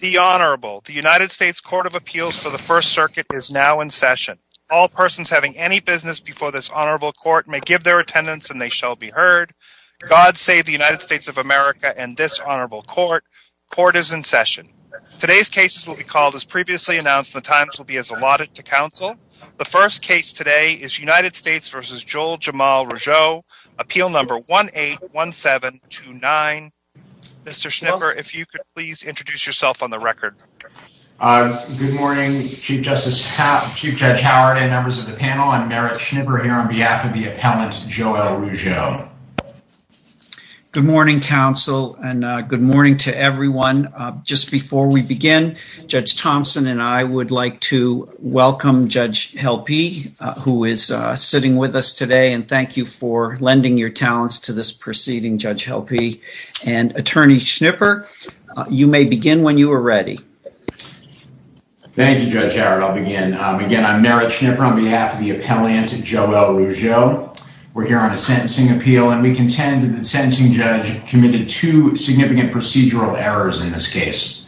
The Honorable, the United States Court of Appeals for the First Circuit is now in session. All persons having any business before this Honorable Court may give their attendance and they shall be heard. God save the United States of America and this Honorable Court. Court is in session. Today's cases will be called as previously announced and the times will be as allotted to counsel. The first case today is United States v. Joel Jamal Rougeau, appeal number 181729. Mr. Schnipper, if you could please introduce yourself on the record. Good morning, Chief Justice, Chief Judge Howard and members of the panel, I'm Merrick Schnipper here on behalf of the appellant, Joel Rougeau. Good morning, counsel, and good morning to everyone. Just before we begin, Judge Thompson and I would like to welcome Judge Helpe who is sitting with us today and thank you for lending your talents to this proceeding, Judge Helpe. And Attorney Schnipper, you may begin when you are ready. Thank you, Judge Howard, I'll begin. Again, I'm Merrick Schnipper on behalf of the appellant, Joel Rougeau. We're here on a sentencing appeal and we contend that the sentencing judge committed two significant procedural errors in this case.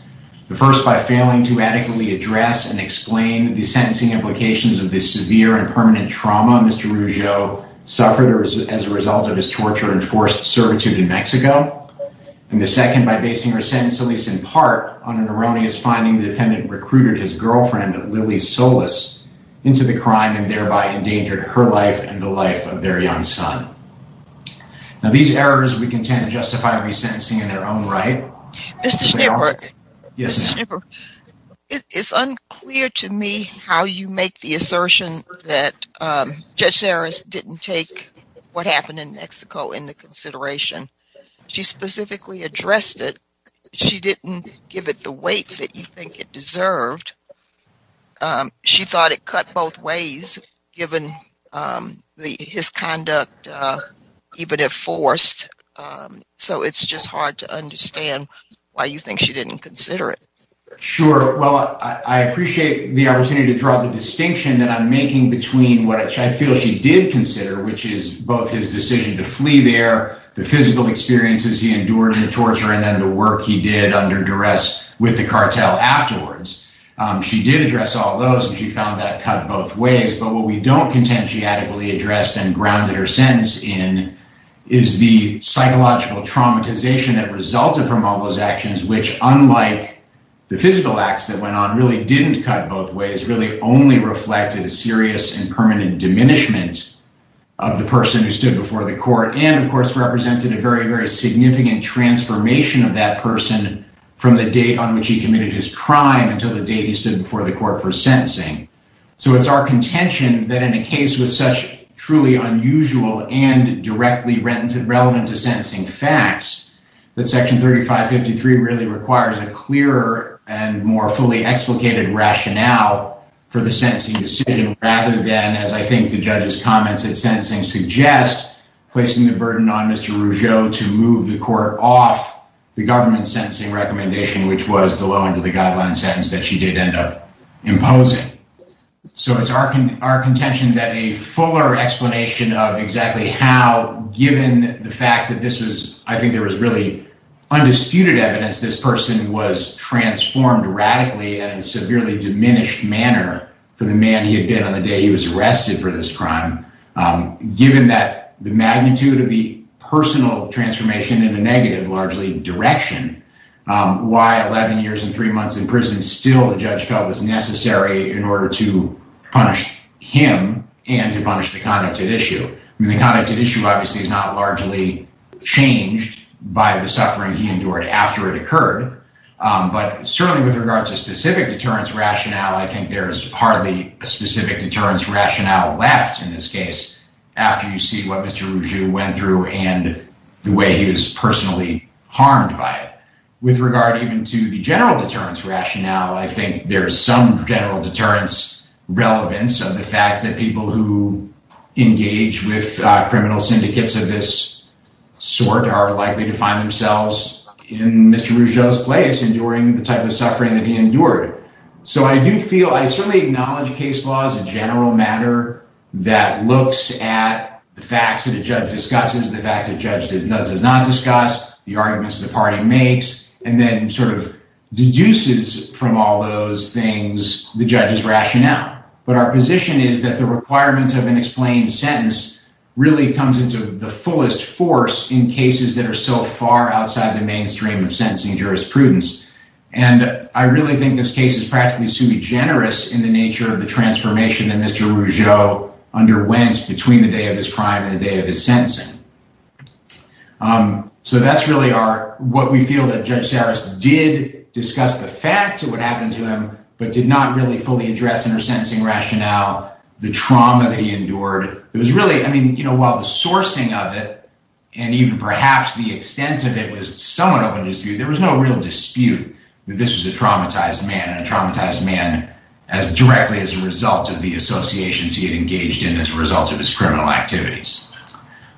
The first by failing to adequately address and explain the sentencing implications of the severe and permanent trauma Mr. Rougeau suffered as a result of his torture and forced servitude in Mexico. And the second by basing her sentence, at least in part, on an erroneous finding the defendant recruited his girlfriend, Lily Solis, into the crime and thereby endangered her life and the life of their young son. Now these errors we contend justify resentencing in their own right. Mr. Schnipper, it's unclear to me how you make the assertion that Judge Serras didn't take what happened in Mexico into consideration. She specifically addressed it, she didn't give it the weight that you think it deserved. She thought it cut both ways, given his conduct, even if forced. So it's just hard to understand why you think she didn't consider it. Sure, well, I appreciate the opportunity to draw the distinction that I'm making between what I feel she did consider, which is both his decision to flee there, the physical experiences he endured in the torture, and then the work he did under duress with the cartel afterwards. She did address all those and she found that cut both ways. But what we don't contend she adequately addressed and grounded her sentence in is the psychological traumatization that resulted from all those actions, which, unlike the physical acts that went on, really didn't cut both ways, really only reflected a serious and permanent diminishment of the person who stood before the court and, of course, represented a very, very significant transformation of that person from the date on which he committed his crime until the date he stood before the court for sentencing. So it's our contention that in a case with such truly unusual and directly relevant to sentencing facts, that Section 3553 really requires a clearer and more fully explicated rationale for the sentencing decision, rather than, as I think the judge's comments at sentencing suggest, placing the burden on Mr. Rougeau to move the court off the government's sentencing recommendation, which was the low end of the guideline sentence that she did end up imposing. So it's our contention that a fuller explanation of exactly how, given the fact that this was, I think there was really undisputed evidence this person was transformed radically in a severely diminished manner for the man he had been on the day he was arrested for this crime, given that the magnitude of the personal transformation in a negative, largely, direction, why 11 years and three months in prison still, the judge felt, was necessary in order to punish him and to punish the conduct at issue. I mean, the conduct at issue obviously is not largely changed by the suffering he endured after it occurred, but certainly with regard to specific deterrence rationale, I think there's hardly a specific deterrence rationale left in this case after you see what Mr. Rougeau went through and the way he was personally harmed by it. With regard even to the general deterrence rationale, I think there's some general deterrence relevance of the fact that people who engage with criminal syndicates of this sort are likely to find themselves in Mr. Rougeau's place enduring the type of suffering that he endured. So I do feel, I certainly acknowledge case law as a general matter that looks at the facts that the judge discusses, the facts that the judge does not discuss, the arguments the party makes, and then sort of deduces from all those things the judge's rationale. But our position is that the requirements of an explained sentence really comes into the fullest force in cases that are so far outside the mainstream of sentencing jurisprudence. And I really think this case is practically sui generis in the nature of the transformation that Mr. Rougeau underwent between the day of his crime and the day of his sentencing. So that's really what we feel that Judge Sarris did discuss the facts of what happened to him, but did not really fully address in her sentencing rationale the trauma that he endured. It was really, I mean, you know, while the sourcing of it and even perhaps the extent of it was somewhat open to dispute, there was no real dispute that this was a traumatized man and a traumatized man as directly as a result of the associations he had engaged in as a result of his criminal activities.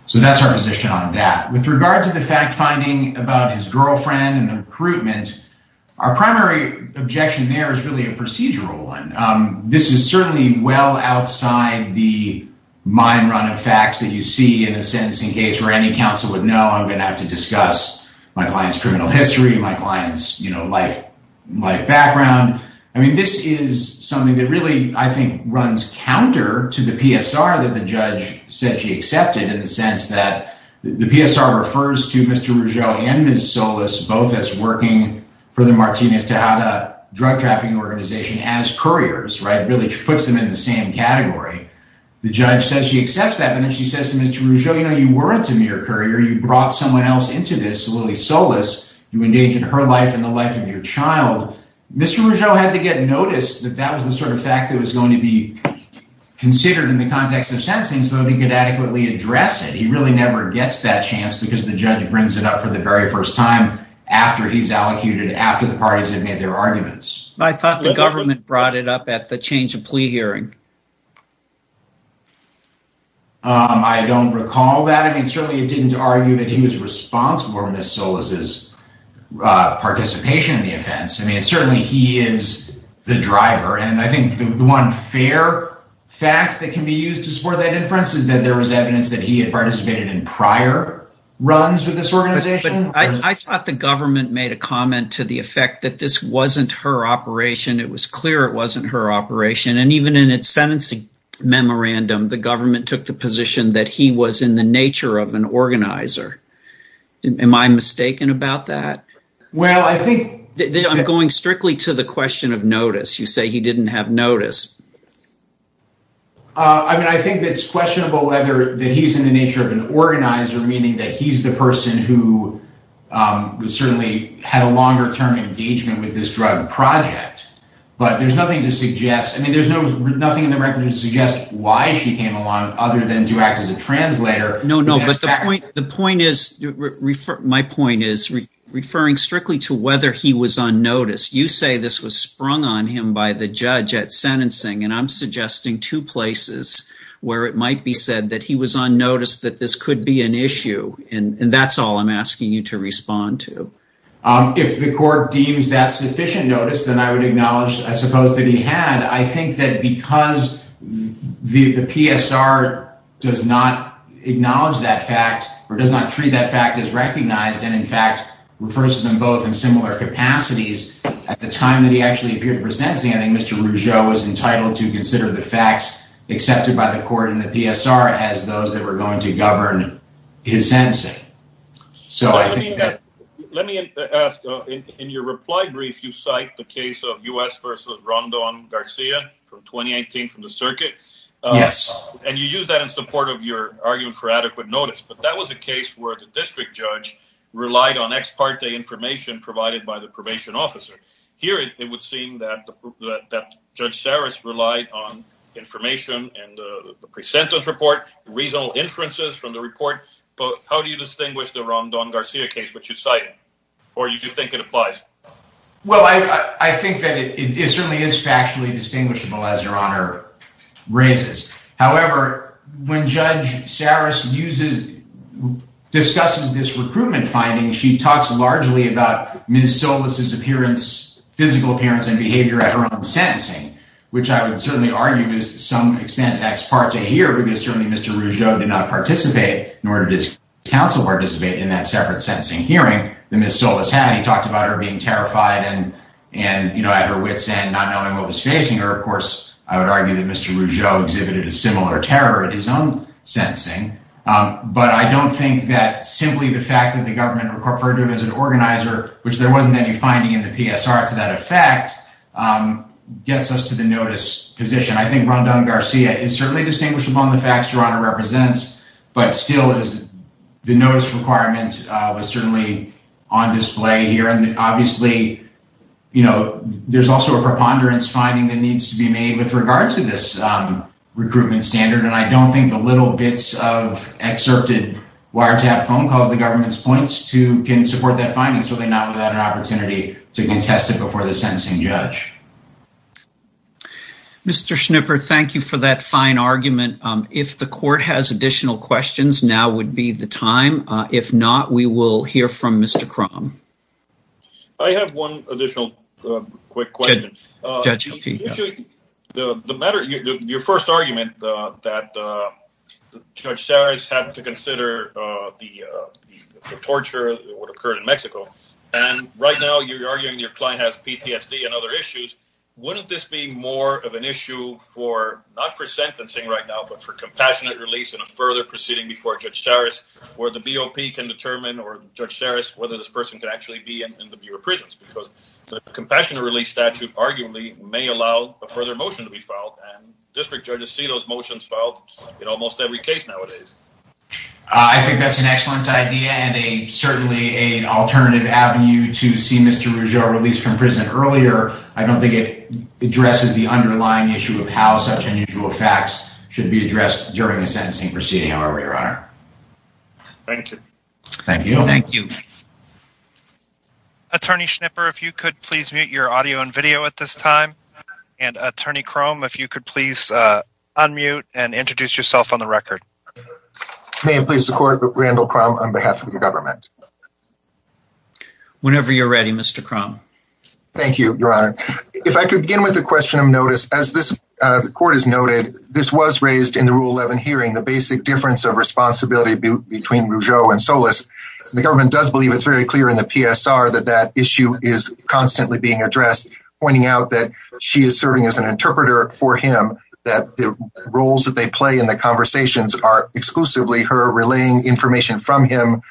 So that's our position on that. With regard to the fact-finding about his girlfriend and the recruitment, our primary objection there is really a procedural one. This is certainly well outside the mind-run of facts that you see in a sentencing case where any counsel would know I'm going to have to discuss my client's criminal history, my client's, you know, life background. I mean, this is something that really, I think, runs counter to the PSR that the judge said she accepted in the sense that the PSR refers to Mr. Rougeau and Ms. Solis both as working for the Martinez Tejada drug trafficking organization as couriers, right, really puts them in the same category. The judge says she accepts that, but then she says to Mr. Rougeau, you know, you weren't a mere courier. You brought someone else into this. You engaged in her life and the life of your child. Mr. Rougeau had to get notice that that was the sort of fact that was going to be considered in the context of sentencing so that he could adequately address it. He really never gets that chance because the judge brings it up for the very first time after he's allocated, after the parties have made their arguments. I thought the government brought it up at the change of plea hearing. I don't recall that. Certainly, it didn't argue that he was responsible for Ms. Solis' participation in the offense. Certainly, he is the driver. I think the one fair fact that can be used to support that inference is that there was evidence that he had participated in prior runs with this organization. I thought the government made a comment to the effect that this wasn't her operation. It was clear it wasn't her operation. Even in its sentencing memorandum, the government took the position that he was in the nature of an organizer. Am I mistaken about that? I'm going strictly to the question of notice. You say he didn't have notice. I think it's questionable whether he's in the nature of an organizer, meaning that he's the person who certainly had a longer-term engagement with this drug project. There's nothing in the record to suggest why she came along other than to act as a translator. The point is referring strictly to whether he was on notice. You say this was sprung on him by the judge at sentencing. I'm suggesting two places where it might be said that he was on notice that this could be an issue. That's all I'm asking you to respond to. If the court deems that sufficient notice, then I would acknowledge that he had. Because the PSR does not acknowledge that fact or does not treat that fact as recognized and, in fact, refers to them both in similar capacities, at the time that he actually appeared for sentencing, I think Mr. Rougeau was entitled to consider the facts accepted by the court and the PSR as those that were going to govern his sentencing. So let me ask, in your reply brief, you cite the case of U.S. versus Rondon Garcia from 2018 from the circuit. Yes. And you use that in support of your argument for adequate notice. But that was a case where the district judge relied on ex parte information provided by the probation officer. Here, it would seem that Judge Saris relied on information and the pre-sentence report, reasonable inferences from the report. How do you distinguish the Rondon Garcia case that you cite? Or do you think it applies? Well, I think that it certainly is factually distinguishable, as Your Honor raises. However, when Judge Saris uses, discusses this recruitment finding, she talks largely about Ms. Solis' appearance, physical appearance and behavior at her own sentencing, which I would certainly argue is to some extent ex parte here because certainly Mr. Rougeau did not participate, nor did his counsel participate in that separate sentencing hearing that Ms. Solis had. He talked about her being terrified and, you know, at her wits end, not knowing what was facing her. Of course, I would argue that Mr. Rougeau exhibited a similar terror at his own sentencing. But I don't think that simply the fact that the government referred to him as an organizer, which there wasn't any finding in the PSR to that effect, gets us to the notice position. I think Rondon Garcia is certainly distinguishable in the facts Your Honor represents. But still, the notice requirement was certainly on display here. And obviously, you know, there's also a preponderance finding that needs to be made with regard to this recruitment standard. And I don't think the little bits of excerpted wiretap phone calls the government points to can support that finding, certainly not without an opportunity to get tested before the sentencing judge. Mr. Schnipper, thank you for that fine argument. If the court has additional questions, now would be the time. If not, we will hear from Mr. Krom. I have one additional quick question. Judge, the matter, your first argument that Judge Saris had to consider the torture that would occur in Mexico. And right now, you're arguing your client has PTSD and other issues. Wouldn't this be more of an issue for, not for sentencing right now, but for compassionate release and a further proceeding before Judge Saris, where the BOP can determine, or Judge Saris, whether this person could actually be in the Bureau of Prisons? Because the compassionate release statute arguably may allow a further motion to be filed. And district judges see those motions filed in almost every case nowadays. I think that's an excellent idea and certainly an alternative avenue to see Mr. Rougeau released from prison earlier. I don't think it addresses the underlying issue of how such unusual facts should be addressed during a sentencing proceeding, however, Your Honor. Thank you. Thank you. Thank you. Attorney Schnipper, if you could please mute your audio and video at this time. And Attorney Krom, if you could please unmute and introduce yourself on the record. May it please the court, Randall Krom on behalf of the government. Whenever you're ready, Mr. Krom. Thank you, Your Honor. If I could begin with a question of notice, as this court has noted, this was raised in the Rule 11 hearing, the basic difference of responsibility between Rougeau and Solis. The government does believe it's very clear in the PSR that that issue is constantly being addressed, pointing out that she is serving as an interpreter for him, that the play in the conversations are exclusively her relaying information from him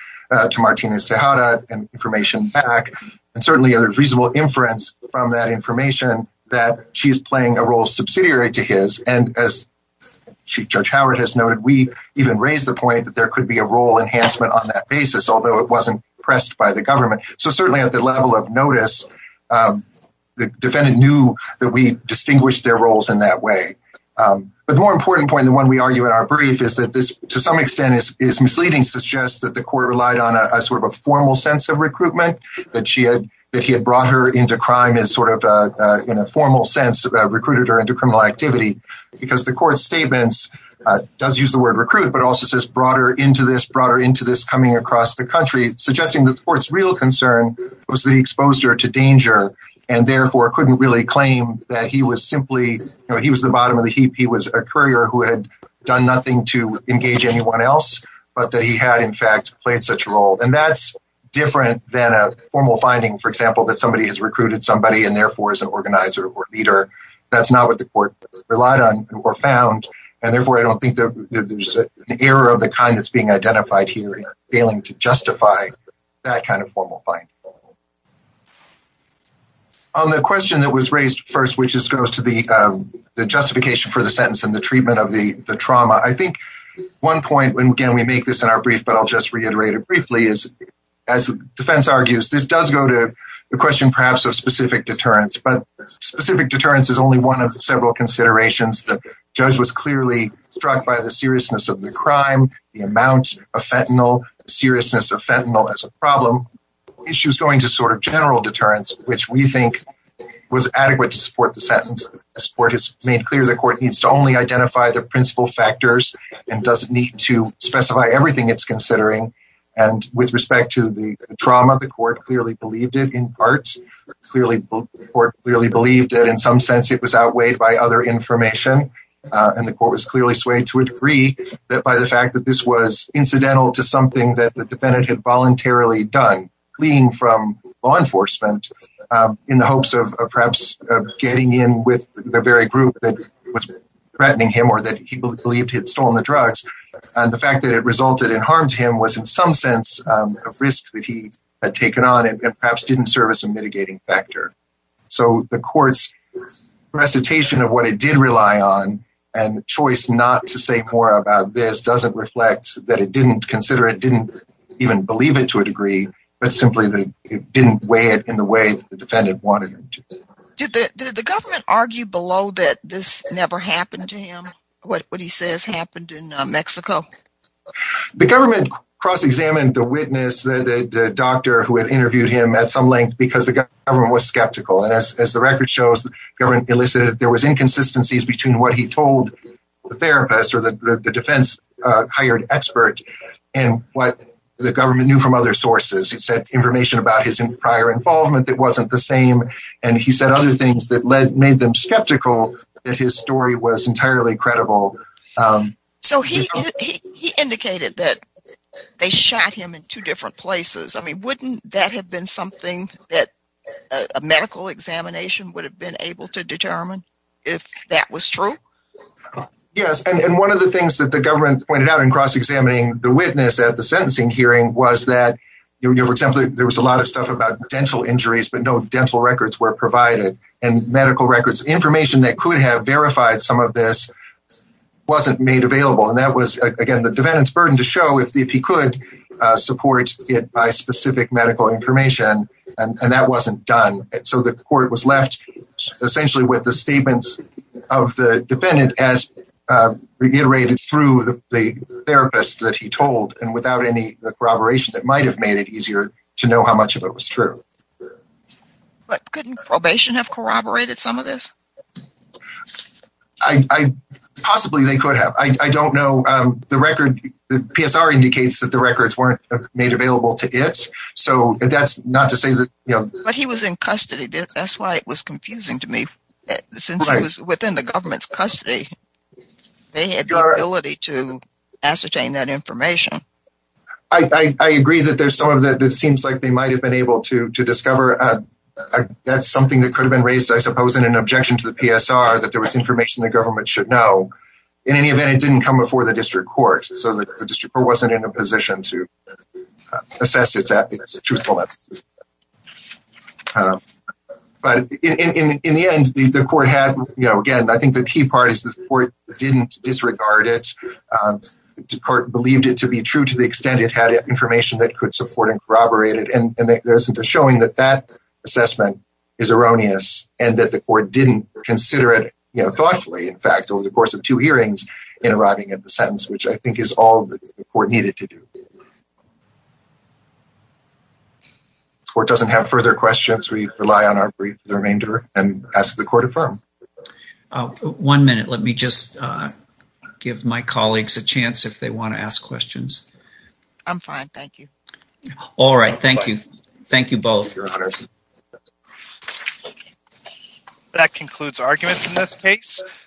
to Martina Cejada and information back. And certainly a reasonable inference from that information that she is playing a role subsidiary to his. And as Chief Judge Howard has noted, we even raised the point that there could be a role enhancement on that basis, although it wasn't pressed by the government. So certainly at the level of notice, the defendant knew that we distinguished their roles in that way. But the more important point, the one we argue in our brief, is that this, to some extent, is misleading, suggests that the court relied on a sort of a formal sense of recruitment that she had, that he had brought her into crime as sort of in a formal sense, recruited her into criminal activity because the court's statements does use the word recruit, but also says brought her into this, brought her into this coming across the country, suggesting that the court's real concern was that he exposed her to danger and therefore couldn't really claim that he was simply, you know, he was the bottom of the heap. He was a courier who had done nothing to engage anyone else, but that he had, in fact, played such a role. And that's different than a formal finding, for example, that somebody has recruited somebody and therefore is an organizer or leader. That's not what the court relied on or found. And therefore, I don't think there's an error of the kind that's being identified here in failing to justify that kind of formal finding. On the question that was raised first, which is goes to the justification for the sentence and the treatment of the trauma, I think one point, and again, we make this in our brief, but I'll just reiterate it briefly, is as defense argues, this does go to the question perhaps of specific deterrence, but specific deterrence is only one of several considerations. The judge was clearly struck by the seriousness of the crime, the amount of fentanyl, seriousness of fentanyl as a problem. Issues going to sort of general deterrence, which we think was adequate to support the sentence. As the court has made clear, the court needs to only identify the principal factors and doesn't need to specify everything it's considering. And with respect to the trauma, the court clearly believed it in part, clearly believed that in some sense it was outweighed by other information. And the court was clearly swayed to a degree that by the fact that this was incidental to something that the defendant had voluntarily done, fleeing from law enforcement in the hopes of perhaps getting in with the very group that was threatening him or that he believed had stolen the drugs, and the fact that it resulted in harm to him was in some sense a risk that he had taken on and perhaps didn't serve as a mitigating factor. So the court's recitation of what it did rely on and choice not to say more about this doesn't reflect that it didn't consider it, didn't even believe it to a degree, but simply that it didn't weigh it in the way that the defendant wanted it to. Did the government argue below that this never happened to him, what he says happened in Mexico? The government cross-examined the witness, the doctor who had interviewed him at some length because the government was skeptical. And as the record shows, the government elicited that there was inconsistencies between what he told the therapist or the defense-hired expert and what the government knew from other sources. It said information about his prior involvement that wasn't the same, and he said other things that made them skeptical that his story was entirely credible. So he indicated that they shot him in two different places. I mean, wouldn't that have been something that a medical examination would have been able to determine if that was true? Yes, and one of the things that the government pointed out in cross-examining the witness at the sentencing hearing was that, for example, there was a lot of stuff about dental injuries, but no dental records were provided and medical records, information that could have verified some of this wasn't made available. And that was, again, the defendant's burden to show if he could support it by specific medical information, and that wasn't done. So the court was left essentially with the statements of the defendant as reiterated through the therapist that he told, and without any corroboration, it might have made it easier to know how much of it was true. But couldn't probation have corroborated some of this? Possibly they could have. I don't know. The PSR indicates that the records weren't made available to it, so that's not to say that, you know... But he was in custody. That's why it was confusing to me. Since he was within the government's custody, they had the ability to ascertain that information. I agree that there's some of that that seems like they might have been able to discover that's something that could have been raised, I suppose, in an objection to the PSR, that there was information the government should know. In any event, it didn't come before the district court, so the district court wasn't in a position to assess its truthfulness. But in the end, the court had, you know, again, I think the key part is the court didn't disregard it, the court believed it to be true to the extent it had information that could support and corroborate it, and there isn't a showing that that assessment is erroneous and that the court didn't consider it, you know, thoughtfully, in fact, over the course of two hearings in arriving at the sentence, which I think is all the court needed to do. If the court doesn't have further questions, we rely on our brief remainder and ask the court to affirm. One minute. Let me just give my colleagues a chance if they want to ask questions. I'm fine. Thank you. All right. Thank you. Thank you both. That concludes arguments in this case.